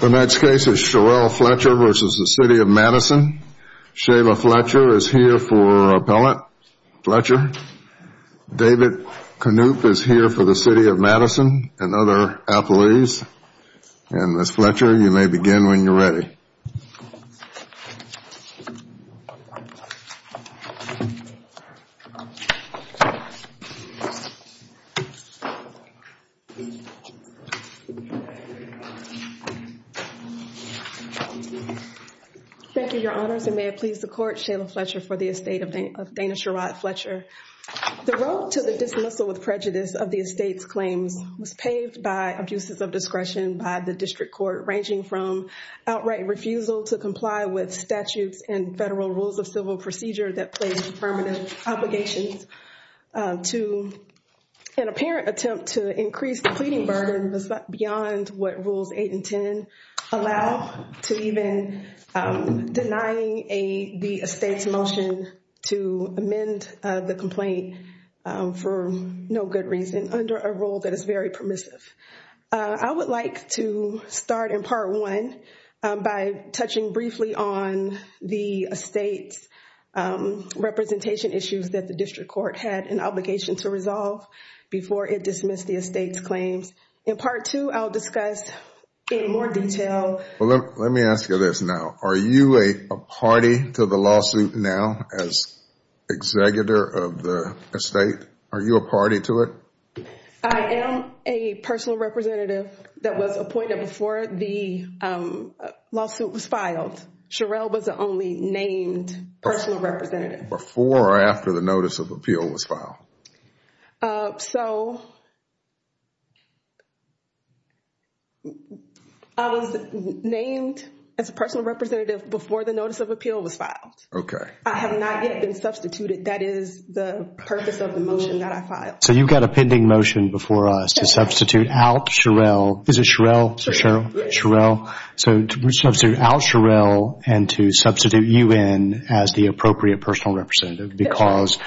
The next case is Cherelle Fletcher v. City Of Madison. Shayla Fletcher is here for Appellant Fletcher. David Knoop is here for the City Of Madison and other appellees. And Ms. Fletcher, you may begin when you're ready. Thank you, Your Honors, and may it please the Court, Shayla Fletcher for the estate of Dana Sherrod Fletcher. The road to the dismissal with prejudice of the estate's claims was paved by abuses of discretion by the district court, ranging from outright refusal to comply with statutes and federal rules of civil procedure that place affirmative obligations to an apparent attempt to increase the pleading burden beyond what Rules 8 and 10 allow, to even denying the estate's motion to amend the complaint for no good reason under a rule that is very permissive. I would like to start in Part 1 by touching briefly on the estate's representation issues that the district court had an obligation to resolve before it dismissed the estate's claims. In Part 2, I'll discuss in more detail. Well, let me ask you this now. Are you a party to the lawsuit now as executor of the estate? Are you a party to it? I am a personal representative that was appointed before the lawsuit was filed. Cherelle was the only named personal representative. Before or after the notice of appeal was filed? So, I was named as a personal representative before the notice of appeal was filed. Okay. I have not yet been substituted. That is the purpose of the motion that I filed. So, you've got a pending motion before us to substitute out Cherelle. Is it Cherelle? Cherelle. So, to substitute out Cherelle and to substitute you in as the appropriate personal representative because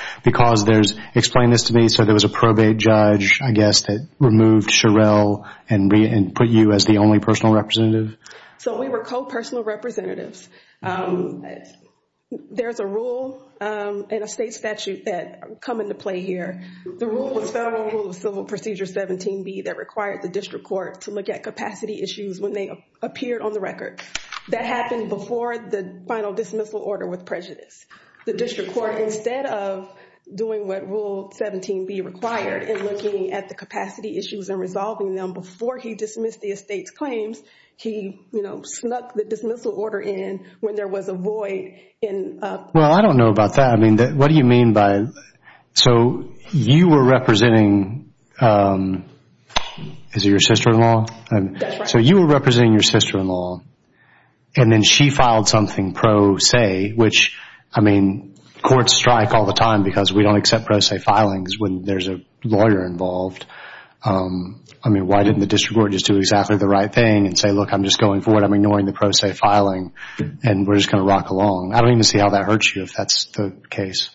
there's, explain this to me. So, there was a probate judge, I guess, that removed Cherelle and put you as the only personal representative? So, we were co-personal representatives. There's a rule and a state statute that come into play here. The rule was Federal Rule of Civil Procedure 17B that required the district court to look at capacity issues when they appeared on the record. That happened before the final dismissal order with prejudice. The district court, instead of doing what Rule 17B required and looking at the capacity issues and resolving them before he dismissed the estate's claims, he, you know, snuck the dismissal order in when there was a void in. Well, I don't know about that. I mean, what do you mean by? So, you were representing, is it your sister-in-law? That's right. So, you were representing your sister-in-law and then she filed something pro se, which, I mean, courts strike all the time because we don't accept pro se filings when there's a lawyer involved. I mean, why didn't the district court just do exactly the right thing and say, look, I'm just going forward. I'm ignoring the pro se filing and we're just going to rock along. I don't even see how that hurts you if that's the case.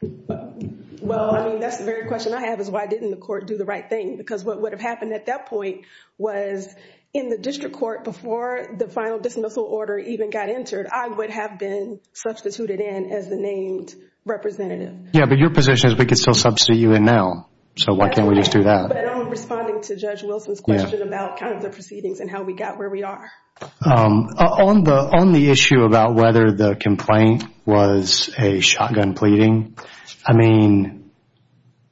Well, I mean, that's the very question I have is why didn't the court do the right thing? Because what would have happened at that point was in the district court before the final dismissal order even got entered, I would have been substituted in as the named representative. Yeah, but your position is we could still substitute you in now. So, why can't we just do that? But I'm responding to Judge Wilson's question about kind of the proceedings and how we got where we are. On the issue about whether the complaint was a shotgun pleading, I mean,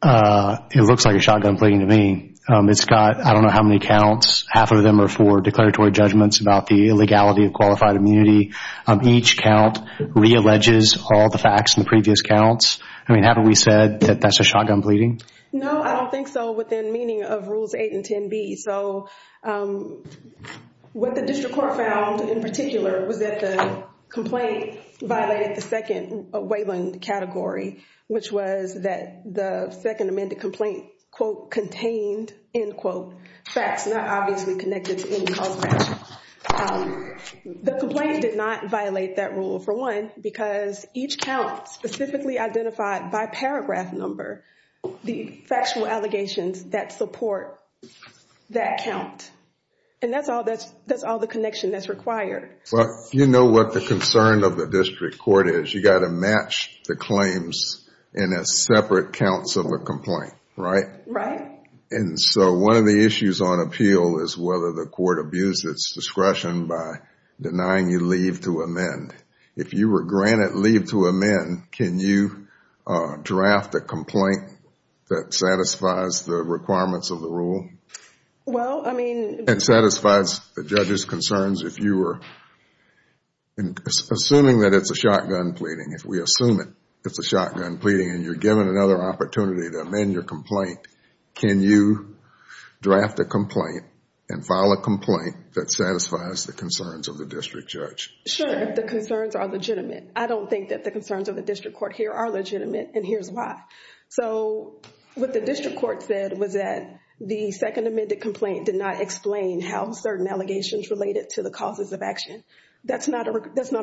it looks like a shotgun pleading to me. It's got, I don't know how many counts. Half of them are for declaratory judgments about the illegality of qualified immunity. Each count re-alleges all the facts in the previous counts. I mean, haven't we said that that's a shotgun pleading? No, I don't think so within meaning of Rules 8 and 10b. So, what the district court found in particular was that the complaint violated the second Wayland category, which was that the second amended complaint, quote, contained, end quote, facts not obviously connected to any cause of action. The complaint did not violate that rule for one because each count specifically identified by paragraph number the factual allegations that support that count. And that's all the connection that's required. Well, you know what the concern of the district court is. You got to match the claims in a separate counts of a complaint, right? Right. And so, one of the issues on appeal is whether the court abused its discretion by denying you leave to amend. If you were granted leave to amend, can you draft a complaint that satisfies the requirements of the rule? Well, I mean... And satisfies the judge's concerns if you were, assuming that it's a shotgun pleading, if we assume it's a shotgun pleading and you're given another opportunity to amend your complaint, can you draft a complaint and file a complaint that satisfies the concerns of the district judge? Sure, if the concerns are legitimate. I don't think that the concerns of the district court here are legitimate, and here's why. So, what the district court said was that the second amended complaint did not explain how certain allegations related to the causes of action. That's not a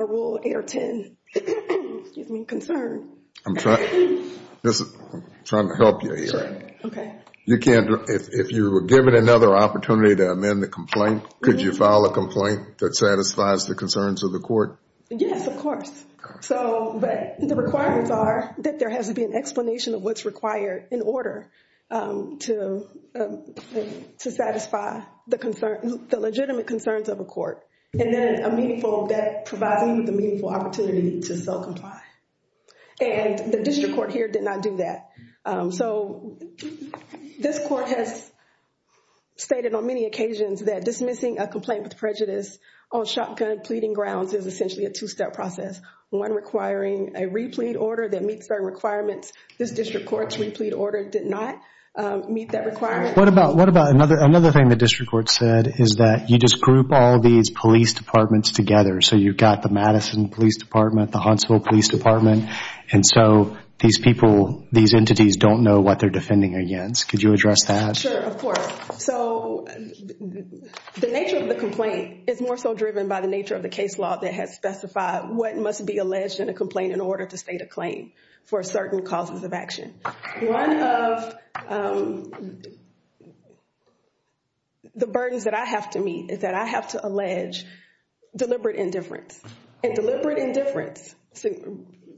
rule 8 or 10, excuse me, concern. I'm trying to help you here. Okay. You can't, if you were given another opportunity to amend the complaint, could you file a complaint that satisfies the concerns of the court? Yes, of course. So, but the requirements are that there has to be an explanation of what's required in order to satisfy the legitimate concerns of a court. And then a meaningful, that provides you with a meaningful opportunity to self-comply. And the district court here did not do that. So, this court has stated on many occasions that dismissing a complaint with prejudice on shotgun pleading grounds is essentially a two-step process. One requiring a replete order that meets certain requirements. This district court's replete order did not meet that requirement. What about another thing the district court said is that you just group all these police departments together. So, you've got the Madison Police Department, the Huntsville Police Department. And so, these people, these entities don't know what they're defending against. Could you address that? Sure, of course. So, the nature of the complaint is more so driven by the nature of the case law that has specified what must be alleged in a complaint in order to state a claim for certain causes of action. One of the burdens that I have to meet is that I have to allege deliberate indifference. And deliberate indifference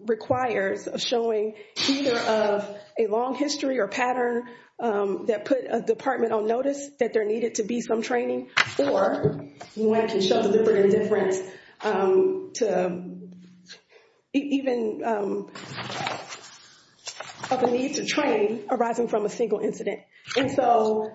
requires showing either of a long history or pattern that put a department on notice that there needed to be some training. Or one can show deliberate indifference to even of a need to train arising from a single incident. And so,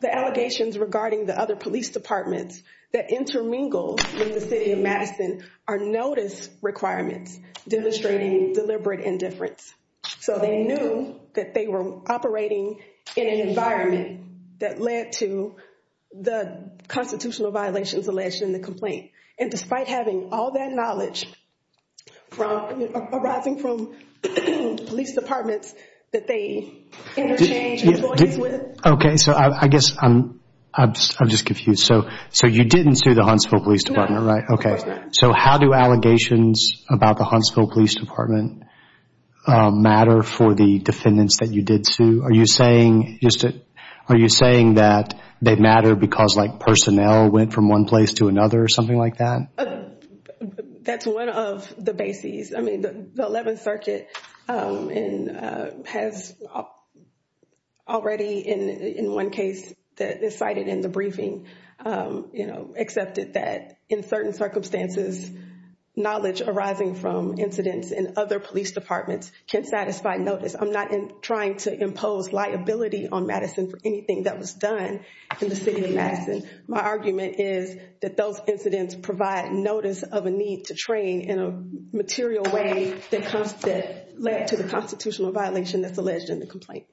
the allegations regarding the other police departments that intermingle with the city of Madison are notice requirements demonstrating deliberate indifference. So, they knew that they were operating in an environment that led to the constitutional violations alleged in the complaint. And despite having all that knowledge arising from police departments that they interchanged reports with. Okay, so I guess I'm just confused. So, you didn't sue the Huntsville Police Department, right? No, of course not. So, how do allegations about the Huntsville Police Department matter for the defendants that you did sue? Are you saying that they matter because like personnel went from one place to another or something like that? That's one of the bases. I mean, the 11th Circuit has already in one case that is cited in the briefing, you know, accepted that in certain circumstances, knowledge arising from incidents in other police departments can satisfy notice. I'm not trying to impose liability on Madison for anything that was done in the city of Madison. My argument is that those incidents provide notice of a need to train in a material way that led to the constitutional violation that's alleged in the complaint.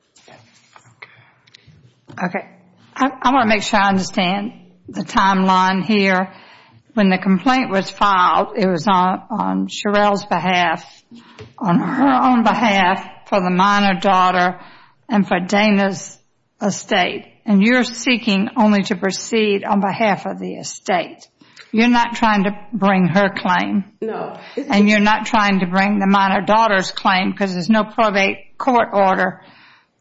Okay, I want to make sure I understand the timeline here. When the complaint was filed, it was on Sherrell's behalf, on her own behalf, for the minor daughter, and for Dana's estate. And you're seeking only to proceed on behalf of the estate. You're not trying to bring her claim. No. And you're not trying to bring the minor daughter's claim because there's no probate court order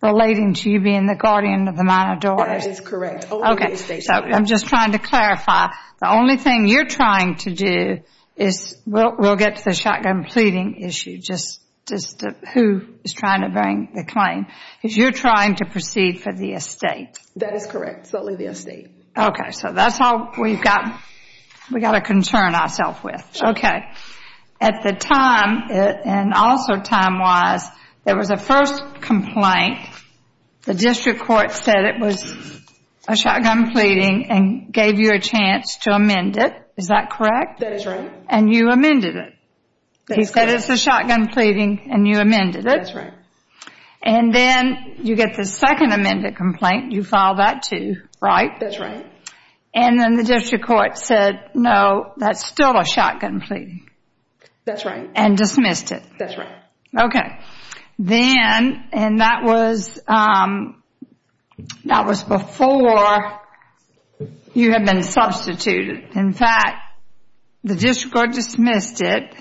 relating to you being the guardian of the minor daughter. That is correct. Okay, so I'm just trying to clarify. The only thing you're trying to do is, we'll get to the shotgun pleading issue, just who is trying to bring the claim, is you're trying to proceed for the estate. That is correct, solely the estate. Okay, so that's all we've got to concern ourselves with. Okay. At the time, and also time-wise, there was a first complaint. The district court said it was a shotgun pleading and gave you a chance to amend it. Is that correct? That is correct. And you amended it. He said it's a shotgun pleading and you amended it. That's right. And then you get the second amended complaint. You filed that too, right? That's right. And then the district court said, no, that's still a shotgun pleading. That's right. And dismissed it. That's right. Okay. Then, and that was before you had been substituted. In fact, the district court dismissed it,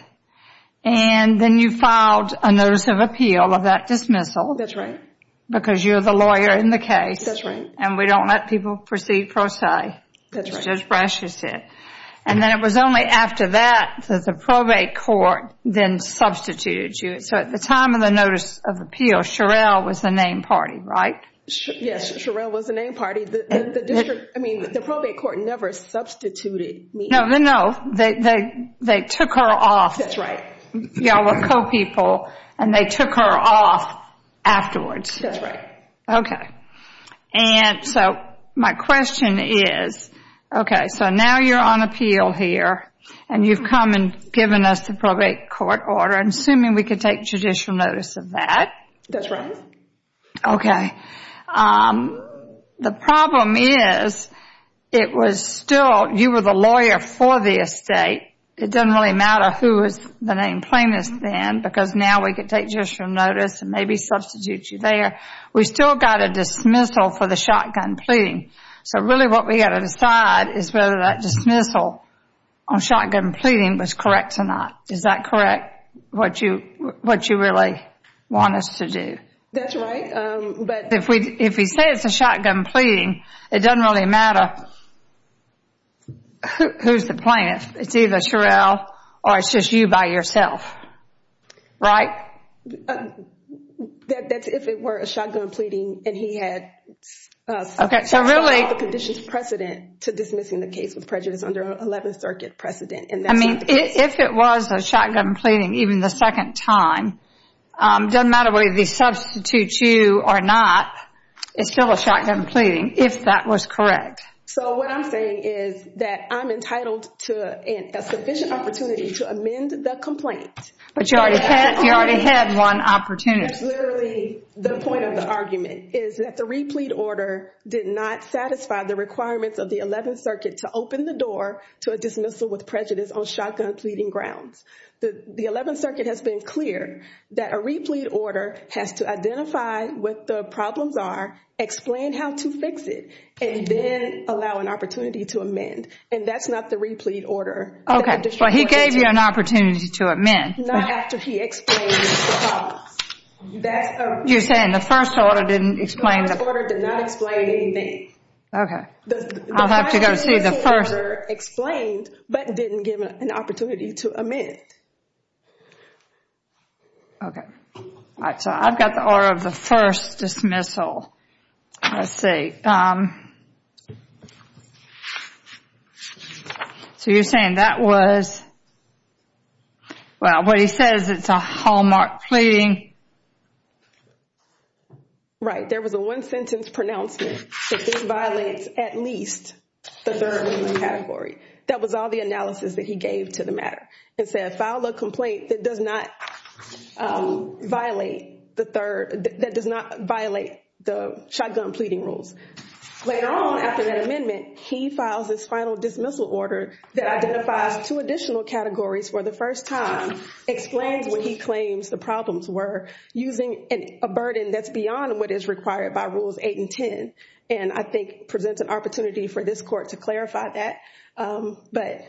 and then you filed a notice of appeal of that dismissal. That's right. Because you're the lawyer in the case. That's right. And we don't let people proceed per se. That's right. It's just breaches it. And then it was only after that that the probate court then substituted you. So at the time of the notice of appeal, Sherell was the name party, right? Yes, Sherell was the name party. The district, I mean, the probate court never substituted me. No, they took her off. That's right. Y'all were co-people, and they took her off afterwards. That's right. Okay. And so my question is, okay, so now you're on appeal here, and you've come and given us the probate court order. I'm assuming we could take judicial notice of that. That's right. Okay. The problem is, it was still, you were the lawyer for the estate. It doesn't really matter who was the name plaintiff then, because now we could take judicial notice and maybe substitute you there. We still got a dismissal for the shotgun pleading. So really what we got to decide is whether that dismissal on shotgun pleading was correct or not. Is that correct? Is that what you really want us to do? That's right. But if we say it's a shotgun pleading, it doesn't really matter who's the plaintiff. It's either Sherell or it's just you by yourself, right? That's if it were a shotgun pleading and he had a special medical conditions precedent to dismissing the case with prejudice under an 11th Circuit precedent. I mean, if it was a shotgun pleading, even the second time, doesn't matter whether they substitute you or not, it's still a shotgun pleading if that was correct. So what I'm saying is that I'm entitled to a sufficient opportunity to amend the complaint. But you already had one opportunity. That's literally the point of the argument, is that the replete order did not satisfy the requirements of the 11th Circuit to open the door to a dismissal with prejudice on shotgun pleading grounds. The 11th Circuit has been clear that a replete order has to identify what the problems are, explain how to fix it, and then allow an opportunity to amend. And that's not the replete order. But he gave you an opportunity to amend. Not after he explained the problems. You're saying the first order didn't explain? The first order did not explain anything. Okay. I'll have to go see the first... Explained, but didn't give an opportunity to amend. Okay. All right, so I've got the order of the first dismissal. Let's see. So you're saying that was... Well, what he says it's a hallmark pleading. Right, there was a one-sentence pronouncement. That this violates at least the third ruling category. That was all the analysis that he gave to the matter. It said, file a complaint that does not violate the shotgun pleading rules. Later on, after that amendment, he files his final dismissal order that identifies two additional categories for the first time, explains what he claims the problems were, using a burden that's beyond what is required by Rules 8 and 10. And I think presents an opportunity for this court to clarify that. But,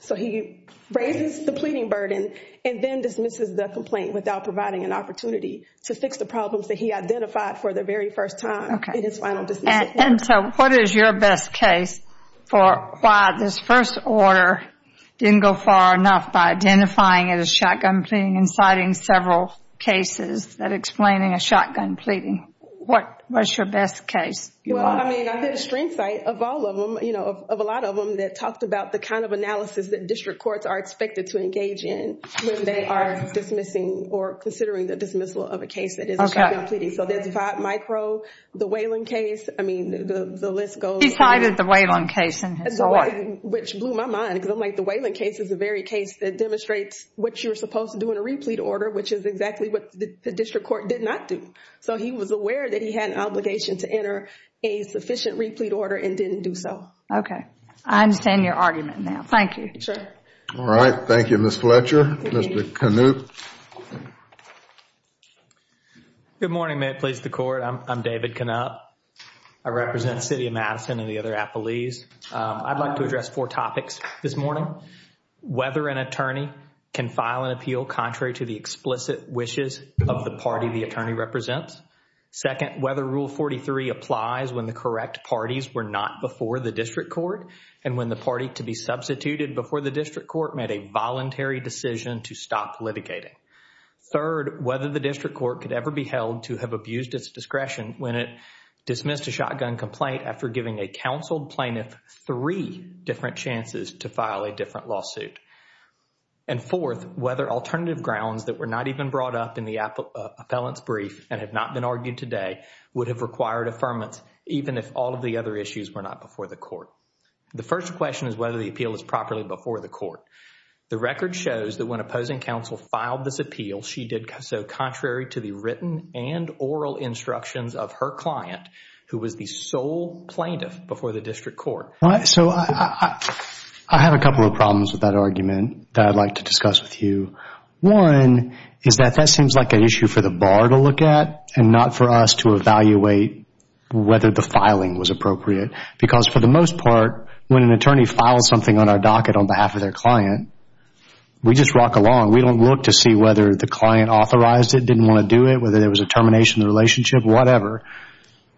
so he raises the pleading burden and then dismisses the complaint without providing an opportunity to fix the problems that he identified for the very first time in his final dismissal order. And so, what is your best case for why this first order didn't go far enough by identifying it as shotgun pleading and citing several cases that explaining a shotgun pleading? What was your best case? Well, I mean, I had a strength site of all of them, you know, of a lot of them that talked about the kind of analysis that district courts are expected to engage in when they are dismissing or considering the dismissal of a case that is a shotgun pleading. So, there's Vought-Micro, the Whelan case. I mean, the list goes on. He cited the Whelan case in his order. Which blew my mind, because I'm like, the Whelan case is the very case that demonstrates what you're supposed to do in a replete order, which is exactly what the district court did not do. So, he was aware that he had an obligation to enter a sufficient replete order and didn't do so. Okay. I understand your argument now. Thank you. Sure. All right. Thank you, Ms. Fletcher. Mr. Knupp. Good morning, May it please the Court. I'm David Knupp. I represent the City of Madison and the other apologies. I'd like to address four topics this morning. Whether an attorney can file an appeal contrary to the explicit wishes of the party the attorney represents. Second, whether Rule 43 applies when the correct parties were not before the district court, and when the party to be substituted before the district court made a voluntary decision to stop litigating. Third, whether the district court could ever be held to have abused its discretion when it dismissed a shotgun complaint after giving a counseled plaintiff three different chances to file a different lawsuit. And fourth, whether alternative grounds that were not even brought up in the appellant's brief and have not been argued today would have required affirmance even if all of the other issues were not before the court. The first question is whether the appeal is properly before the court. The record shows that when opposing counsel filed this appeal, she did so contrary to the written and oral instructions of her client who was the sole plaintiff before the district court. All right. So I have a couple of problems with that argument that I'd like to discuss with you. One is that that seems like an issue for the bar to look at and not for us to evaluate whether the filing was appropriate. Because for the most part, when an attorney files something on our docket on behalf of their client, we just rock along. We don't look to see whether the client authorized it, didn't want to do it, whether there was a termination of the relationship, whatever.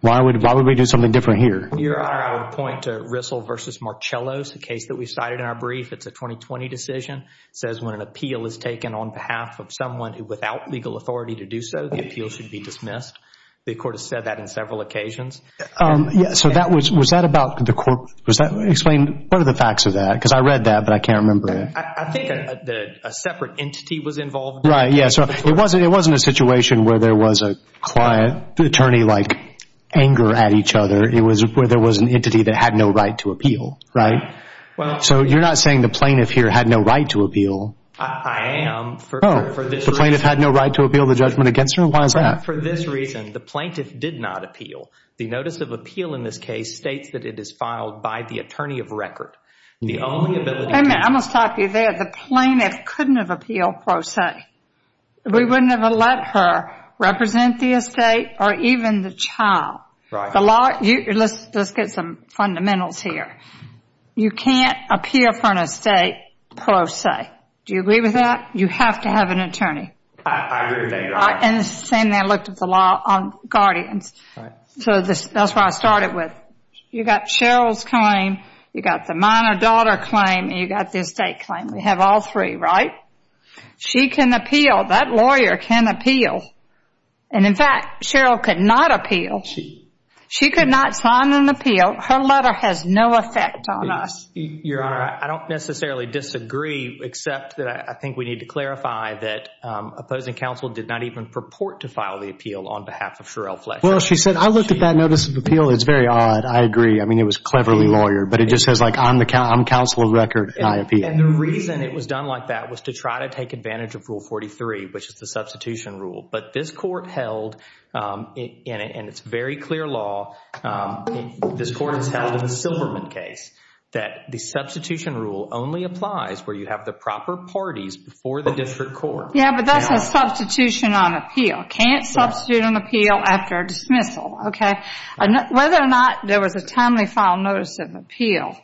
Why would we do something different here? Your Honor, I would point to Rissell v. Marcello. It's a case that we cited in our brief. It's a 2020 decision. It says when an appeal is taken on behalf of someone without legal authority to do so, the appeal should be dismissed. The court has said that on several occasions. So was that about the court? Was that explained? What are the facts of that? Because I read that, but I can't remember it. I think a separate entity was involved. Right, yeah. So it wasn't a situation where there was a client attorney anger at each other. It was where there was an entity that had no right to appeal, right? So you're not saying the plaintiff here had no right to appeal? I am. Oh, the plaintiff had no right to appeal the judgment against her? Why is that? For this reason, the plaintiff did not appeal. The notice of appeal in this case states that it is filed by the attorney of record. The only ability- Wait a minute, I'm going to stop you there. The plaintiff couldn't have appealed, per se. We wouldn't have let her represent the estate or even the child. The law- let's get some fundamentals here. You can't appeal for an estate, per se. Do you agree with that? You have to have an attorney. I agree with that, Your Honor. And the same thing, I looked at the law on guardians. So that's where I started with. You got Cheryl's claim, you got the minor daughter claim, and you got the estate claim. We have all three, right? She can appeal. That lawyer can appeal. And in fact, Cheryl could not appeal. She could not sign an appeal. Her letter has no effect on us. Your Honor, I don't necessarily disagree, except that I think we need to clarify that opposing counsel did not even purport to file the appeal on behalf of Cheryl Fletcher. Well, she said, I looked at that notice of appeal. It's very odd. I agree. I mean, it was cleverly lawyered. But it just says like, I'm counsel of record, and I appeal. And the reason it was done like that was to try to take advantage of Rule 43, which is the substitution rule. But this Court held, and it's very clear law, this Court has held in the Silberman case, that the substitution rule only applies where you have the proper parties before the district court. Yeah, but that's a substitution on appeal. Can't substitute an appeal after a dismissal, okay? Whether or not there was a timely file notice of appeal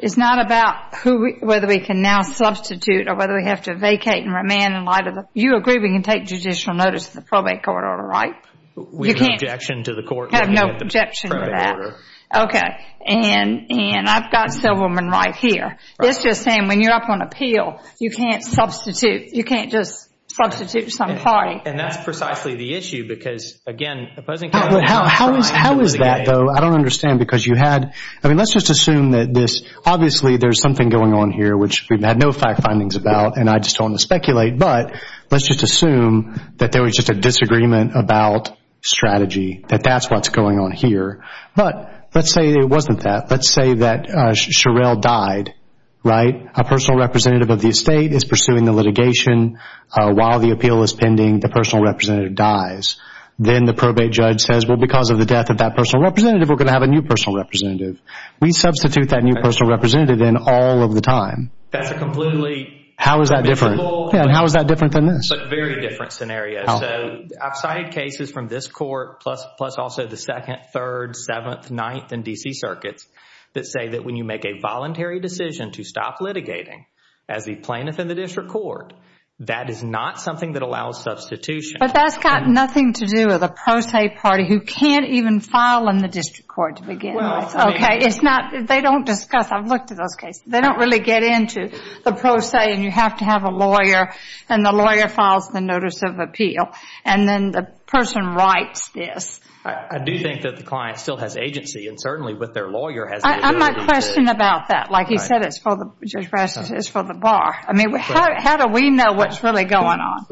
is not about whether we can now substitute or whether we have to vacate and remand in light of that. You agree we can take judicial notice of the probate court order, right? We have no objection to the court looking at the probate order. Okay, and I've got Silberman right here. It's just saying when you're up on appeal, you can't just substitute some party. And that's precisely the issue, because again, opposing counsel is trying to do the game. How is that, though? I don't understand, because you had, I mean, let's just assume that this, obviously there's something going on here, which we've had no fact findings about, and I just don't want to speculate. But let's just assume that there was just a disagreement about strategy, that that's what's going on here. But let's say it wasn't that. Let's say that Sherrell died, right? A personal representative of the estate is pursuing the litigation while the appeal is pending. The personal representative dies. Then the probate judge says, well, because of the death of that personal representative, we're going to have a new personal representative. We substitute that new personal representative in all of the time. That's a completely admissible- How is that different? How is that different than this? But very different scenario. So I've cited cases from this court, plus also the second, third, seventh, ninth, and D.C. circuits that say that when you make a voluntary decision to stop litigating as a plaintiff in the district court, that is not something that allows substitution. But that's got nothing to do with a pro se party who can't even file in the district court to begin with, okay? It's not, they don't discuss, I've looked at those cases. They don't really get into the pro se, and you have to have a lawyer, and the lawyer files the notice of appeal. And then the person writes this. I do think that the client still has agency, and certainly with their lawyer has the ability to- I'm not questioning about that. Like you said, it's for the bar. I mean, how do we know what's really going on?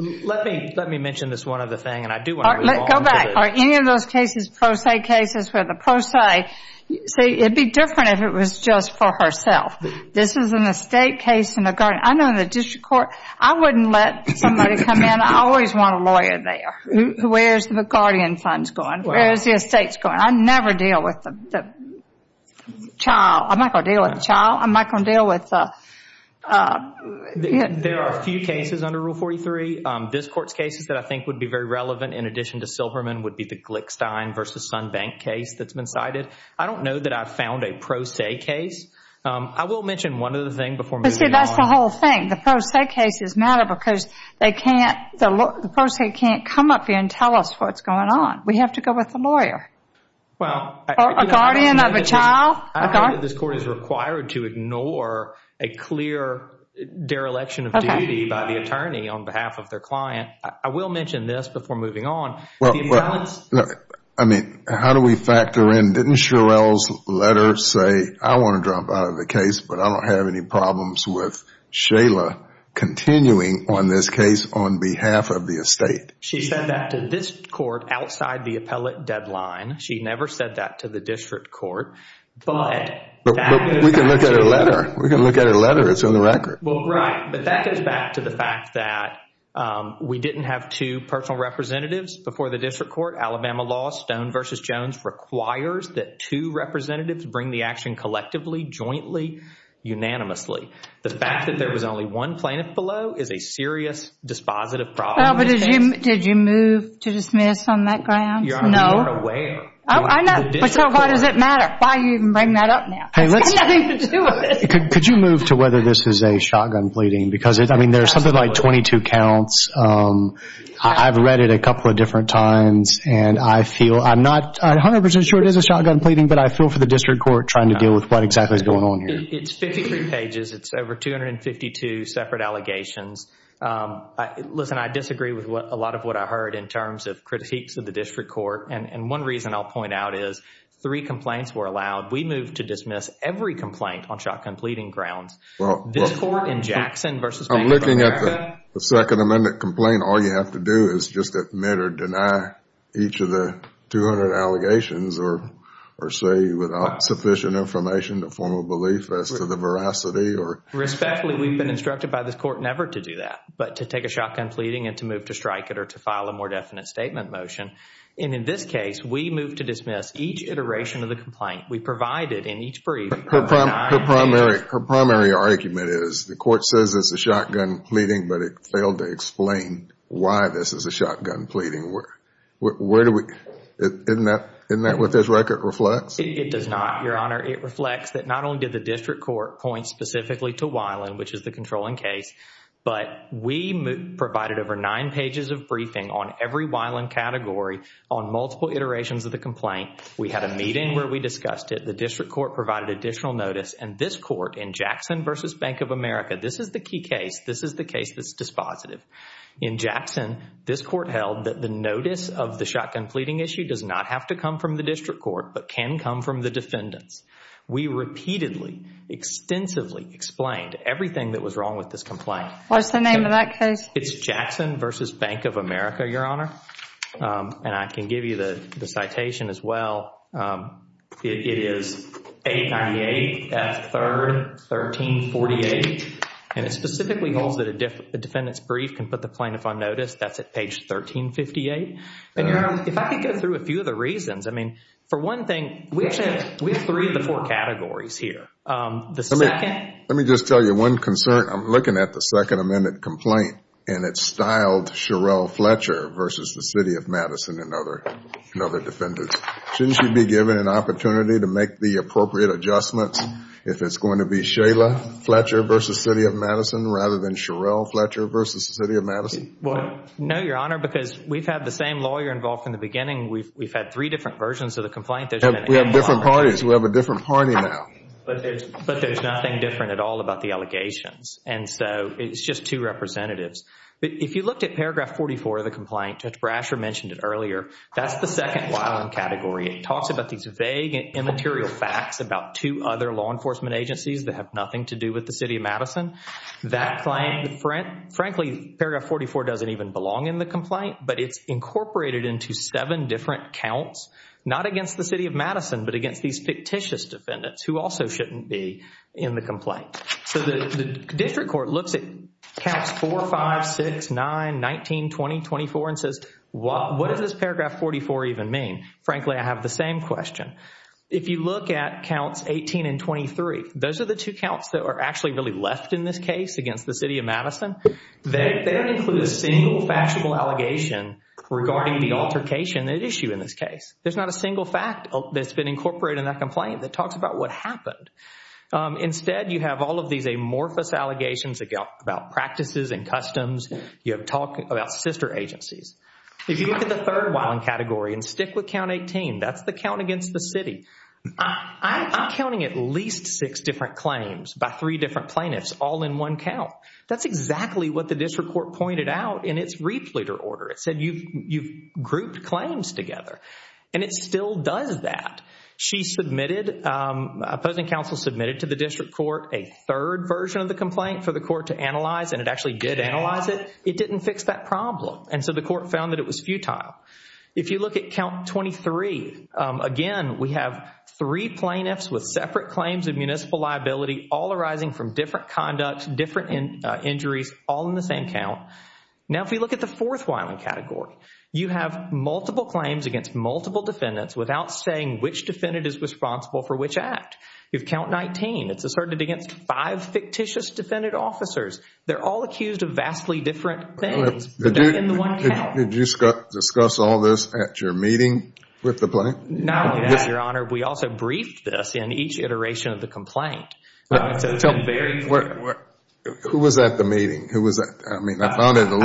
Let me mention this one other thing, and I do want to move on. Go back. Are any of those cases pro se cases where the pro se, see, it'd be different if it was just for herself. This is an estate case in the guardian. I know in the district court, I wouldn't let somebody come in. I always want a lawyer there. Where's the guardian funds going? Where's the estates going? I never deal with the child. I'm not going to deal with the child. I'm not going to deal with the- There are a few cases under Rule 43. This court's cases that I think would be very relevant in addition to Silverman would be the Glickstein versus Sunbank case that's been cited. I don't know that I've found a pro se case. I will mention one other thing before moving on. See, that's the whole thing. The pro se cases matter because the pro se can't come up here and tell us what's going on. We have to go with the lawyer or a guardian of a child. I agree that this court is required to ignore a clear dereliction of duty by the attorney on behalf of their client. I will mention this before moving on. The appellant's- I mean, how do we factor in? Didn't Sherrell's letter say, I want to drop out of the case, but I don't have any problems with Shayla continuing on this case on behalf of the estate? She said that to this court outside the appellate deadline. She never said that to the district court. But we can look at her letter. We can look at her letter. It's on the record. Well, right. But that goes back to the fact that we didn't have two personal representatives before the district court. Alabama law, Stone versus Jones, requires that two representatives bring the action collectively, jointly, unanimously. The fact that there was only one plaintiff below is a serious dispositive problem. But did you move to dismiss on that grounds? No. Your Honor, we are aware. I'm not. So why does it matter? Why do you even bring that up now? It's got nothing to do with it. Could you move to whether this is a shotgun pleading? Because, I mean, there's something like 22 counts. I've read it a couple of different times. And I feel, I'm not 100% sure it is a shotgun pleading. But I feel for the district court trying to deal with what exactly is going on here. It's 53 pages. It's over 252 separate allegations. Listen, I disagree with a lot of what I heard in terms of critiques of the district court. And one reason I'll point out is three complaints were allowed. We moved to dismiss every complaint on shotgun pleading grounds. This court in Jackson versus Bank of America. I'm looking at the Second Amendment complaint. All you have to do is just admit or deny each of the 200 allegations, or say, without sufficient information to form a belief as to the veracity. Respectfully, we've been instructed by this court never to do that, but to take a shotgun pleading and to move to strike it or to file a more definite statement motion. And in this case, we moved to dismiss each iteration of the complaint. We provided in each brief, Her primary argument is the court says it's a shotgun pleading, but it failed to explain why this is a shotgun pleading. Where do we, isn't that what this record reflects? It does not, Your Honor. It reflects that not only did the district court point specifically to Weiland, which is the controlling case, but we provided over nine pages of briefing on every Weiland category on multiple iterations of the complaint. We had a meeting where we discussed it. The district court provided additional notice, and this court in Jackson versus Bank of America, this is the key case. This is the case that's dispositive. In Jackson, this court held that the notice of the shotgun pleading issue does not have to come from the district court, but can come from the defendants. We repeatedly, extensively explained everything that was wrong with this complaint. What's the name of that case? It's Jackson versus Bank of America, Your Honor. And I can give you the citation as well. It is page 98, that's third, 1348. And it specifically holds that a defendant's brief can put the plaintiff on notice. That's at page 1358. And Your Honor, if I could go through a few of the reasons. I mean, for one thing, we have three of the four categories here. The second... Let me just tell you one concern. I'm looking at the second amended complaint, and it's styled Sherelle Fletcher versus the City of Madison and other defendants. Shouldn't she be given an opportunity to make the appropriate adjustments if it's going to be Shayla Fletcher versus City of Madison rather than Sherelle Fletcher versus the City of Madison? Well, no, Your Honor, because we've had the same lawyer involved in the beginning. We've had three different versions of the complaint. We have different parties. We have a different party now. But there's nothing different at all about the allegations. And so it's just two representatives. But if you looked at paragraph 44 of the complaint, Judge Brasher mentioned it earlier, that's the second wild category. It talks about these vague and immaterial facts about two other law enforcement agencies that have nothing to do with the City of Madison. That claim, frankly, paragraph 44 doesn't even belong in the complaint, but it's incorporated into seven different counts, not against the City of Madison, but against these fictitious defendants who also shouldn't be in the complaint. So the district court looks at counts 4, 5, 6, 9, 19, 20, 24, and says, what does this paragraph 44 even mean? Frankly, I have the same question. If you look at counts 18 and 23, those are the two counts that are actually really left in this case against the City of Madison. They don't include a single factual allegation regarding the altercation at issue in this case. There's not a single fact that's been incorporated in that complaint that talks about what happened. Instead, you have all of these amorphous allegations about practices and customs. You have talk about sister agencies. If you look at the third wild category and stick with count 18, that's the count against the City. I'm counting at least six different claims by three different plaintiffs all in one count. That's exactly what the district court pointed out in its repleter order. It said you've grouped claims together. And it still does that. She submitted, opposing counsel submitted to the district court a third version of the complaint for the court to analyze and it actually did analyze it. It didn't fix that problem. And so the court found that it was futile. If you look at count 23, again, we have three plaintiffs with separate claims of municipal liability all arising from different conducts, different injuries, all in the same count. Now, if we look at the fourth wild category, you have multiple claims against multiple defendants without saying which defendant is responsible for which act. You have count 19. It's asserted against five fictitious defendant officers. They're all accused of vastly different things, but they're in the one count. Did you discuss all this at your meeting with the plaintiff? Not only that, Your Honor. We also briefed this in each iteration of the complaint. Who was at the meeting? I mean, I found it a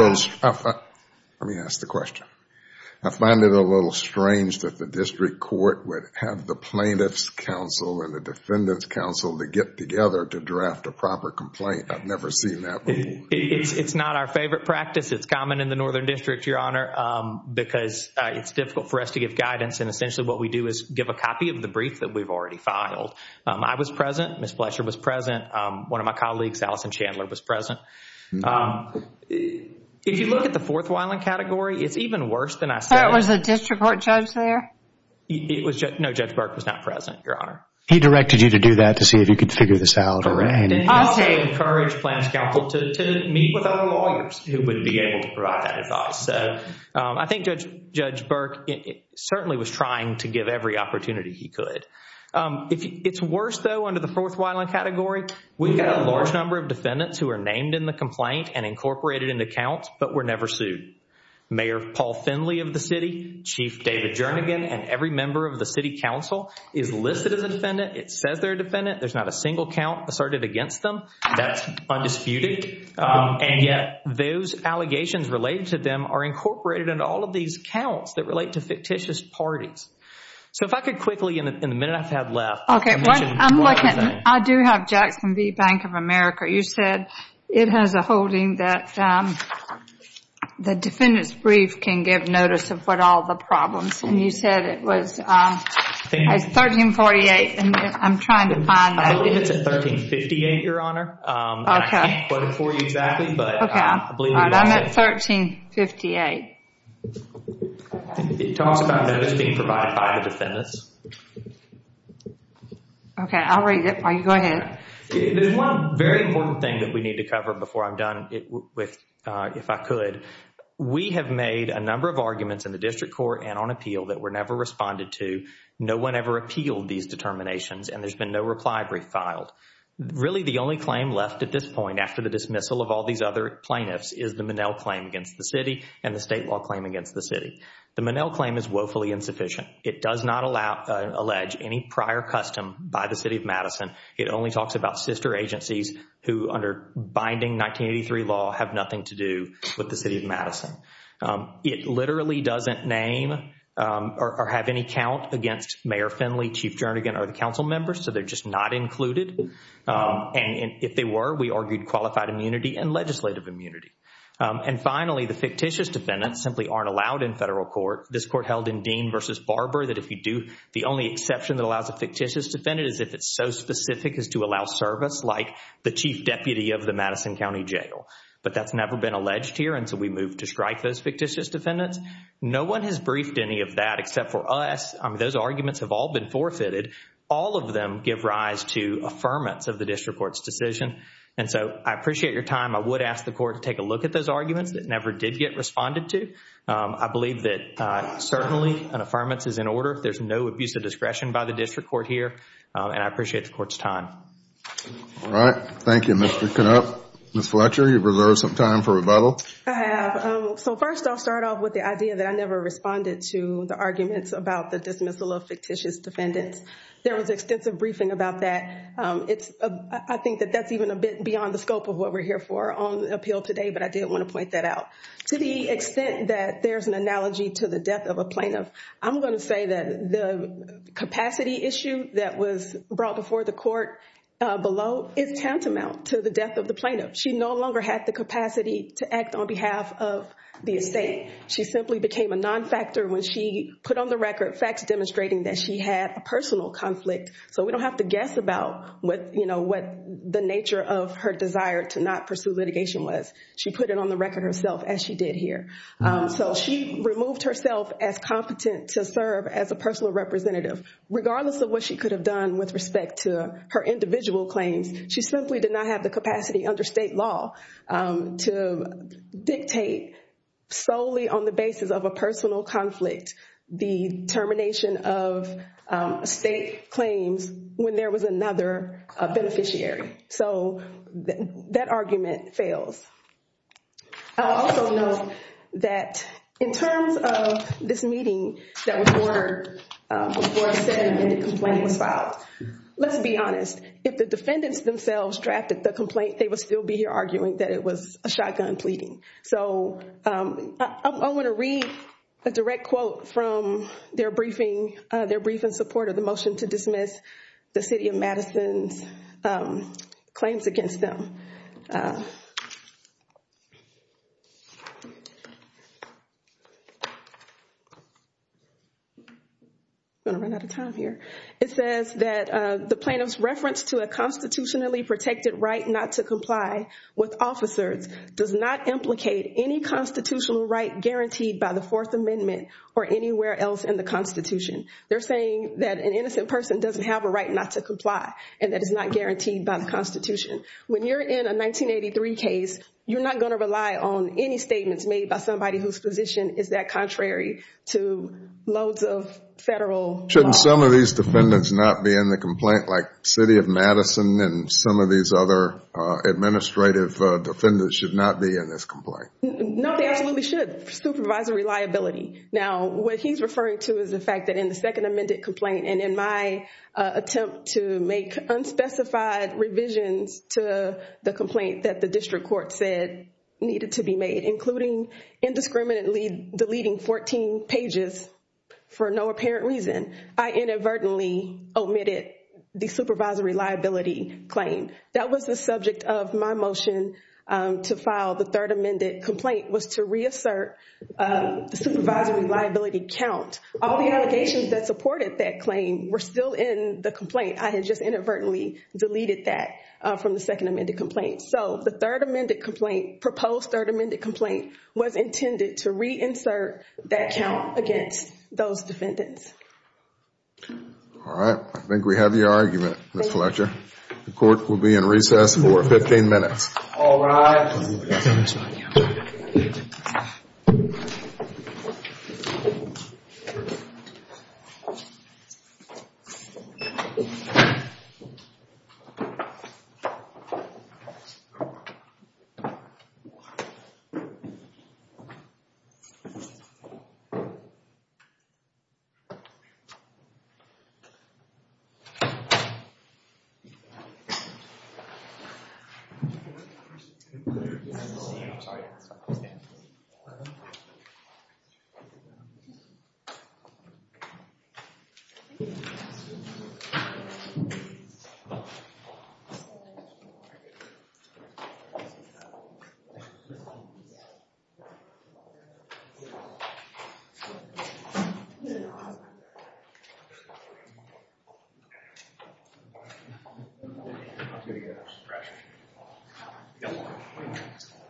little strange that the district court would have the plaintiff's counsel and the defendant's counsel to get together to draft a proper complaint. I've never seen that before. It's not our favorite practice. It's common in the Northern District, Your Honor, because it's difficult for us to give guidance. Essentially, what we do is give a copy of the brief that we've already filed. I was present. Ms. Fletcher was present. One of my colleagues, Allison Chandler, was present. If you look at the fourth wild category, it's even worse than I said. Was the district court judge there? No, Judge Burke was not present, Your Honor. He directed you to do that to see if you could figure this out, all right. I'll say encourage plaintiff's counsel to meet with other lawyers who would be able to provide that advice. I think Judge Burke certainly was trying to give every opportunity he could. It's worse, though, under the fourth wild category. We've got a large number of defendants who are named in the complaint and incorporated into counts, but were never sued. Mayor Paul Finley of the city, Chief David Jernigan, and every member of the city council is listed as a defendant. It says they're a defendant. There's not a single count asserted against them. That's undisputed. And yet, those allegations related to them are incorporated into all of these counts that relate to fictitious parties. So if I could quickly, in the minute I have left, mention one other thing. I do have Jackson v. Bank of America. You said it has a holding that the defendant's brief can give notice of what all the problems. And you said it was 1348, and I'm trying to find that. I believe it's at 1358, Your Honor. And I can't quote it for you exactly, but I believe you got it. I'm at 1358. It talks about notice being provided by the defendants. Okay, I'll read it. Go ahead. There's one very important thing that we need to cover before I'm done, if I could. We have made a number of arguments in the district court and on appeal that were never responded to. No one ever appealed these determinations, and there's been no reply brief filed. Really, the only claim left at this point, after the dismissal of all these other plaintiffs, is the Minnell claim against the city and the state law claim against the city. The Minnell claim is woefully insufficient. It does not allege any prior custom by the city of Madison. It only talks about sister agencies who, under binding 1983 law, have nothing to do with the city of Madison. It literally doesn't name or have any count against Mayor Finley, Chief Jernigan, or the council members, so they're just not included. And if they were, we argued qualified immunity and legislative immunity. And finally, the fictitious defendants simply aren't allowed in federal court. This court held in Dean v. Barber that if you do, the only exception that allows a fictitious defendant is if it's so specific as to allow service like the chief deputy of the Madison County Jail. But that's never been alleged here, and so we move to strike those fictitious defendants. No one has briefed any of that except for us. Those arguments have all been forfeited. All of them give rise to affirmance of the district court's decision. And so I appreciate your time. I would ask the court to take a look at those arguments that never did get responded to. I believe that certainly an affirmance is in order. There's no abuse of discretion by the district court here, and I appreciate the court's time. All right. Thank you, Mr. Canut. Ms. Fletcher, you've reserved some time for rebuttal. I have. So first, I'll start off with the idea that I never responded to the arguments about the dismissal of fictitious defendants. There was extensive briefing about that. I think that that's even a bit beyond the scope of what we're here for on appeal today, but I did want to point that out. To the extent that there's an analogy to the death of a plaintiff, I'm going to say that the capacity issue that was brought before the court below is tantamount to the death of the plaintiff. She no longer had the capacity to act on behalf of the estate. She simply became a non-factor when she put on the record facts demonstrating that she had a personal conflict. So we don't have to guess about what the nature of her desire to not pursue litigation was. She put it on the record herself, as she did here. So she removed herself as competent to serve as a personal representative. Regardless of what she could have done with respect to her individual claims, she simply did not have the capacity under state law to dictate, solely on the basis of a personal conflict, the termination of estate claims when there was another beneficiary. So that argument fails. I'll also note that in terms of this meeting that was ordered, was said and the complaint was filed, let's be honest, if the defendants themselves drafted the complaint, they would still be here arguing that it was a shotgun pleading. So I want to read a direct quote from their briefing, their brief in support of the motion to dismiss the City of Madison's claims against them. Going to run out of time here. It says that the plaintiff's reference to a constitutionally protected right not to comply with officers does not implicate any constitutional right guaranteed by the Fourth Amendment or anywhere else in the Constitution. They're saying that an innocent person doesn't have a right not to comply and that is not guaranteed by the Constitution. When you're in a 1983 case, you're not going to rely on any statements made by somebody whose position is that contrary to loads of federal law. Shouldn't some of these defendants not be in the complaint like City of Madison and some of these other administrative defendants should not be in this complaint? No, they absolutely should. Supervisory liability. Now, what he's referring to is the fact that in the second amended complaint and in my attempt to make unspecified revisions to the complaint that the district court said needed to be made, including indiscriminately deleting 14 pages for no apparent reason, I inadvertently omitted the supervisory liability claim. That was the subject of my motion to file the third amended complaint was to reassert the supervisory liability count. All the allegations that supported that claim were still in the complaint. I had just inadvertently deleted that from the second amended complaint. So the third amended complaint, proposed third amended complaint, was intended to reinsert that count against those defendants. All right. I think we have your argument, Miss Fletcher. The court will be in recess for 15 minutes. All rise. I'm going to get up some pressure. You've got more?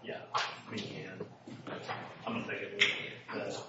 Yeah. I mean, you can. I'm going to take it away from you. That's fine.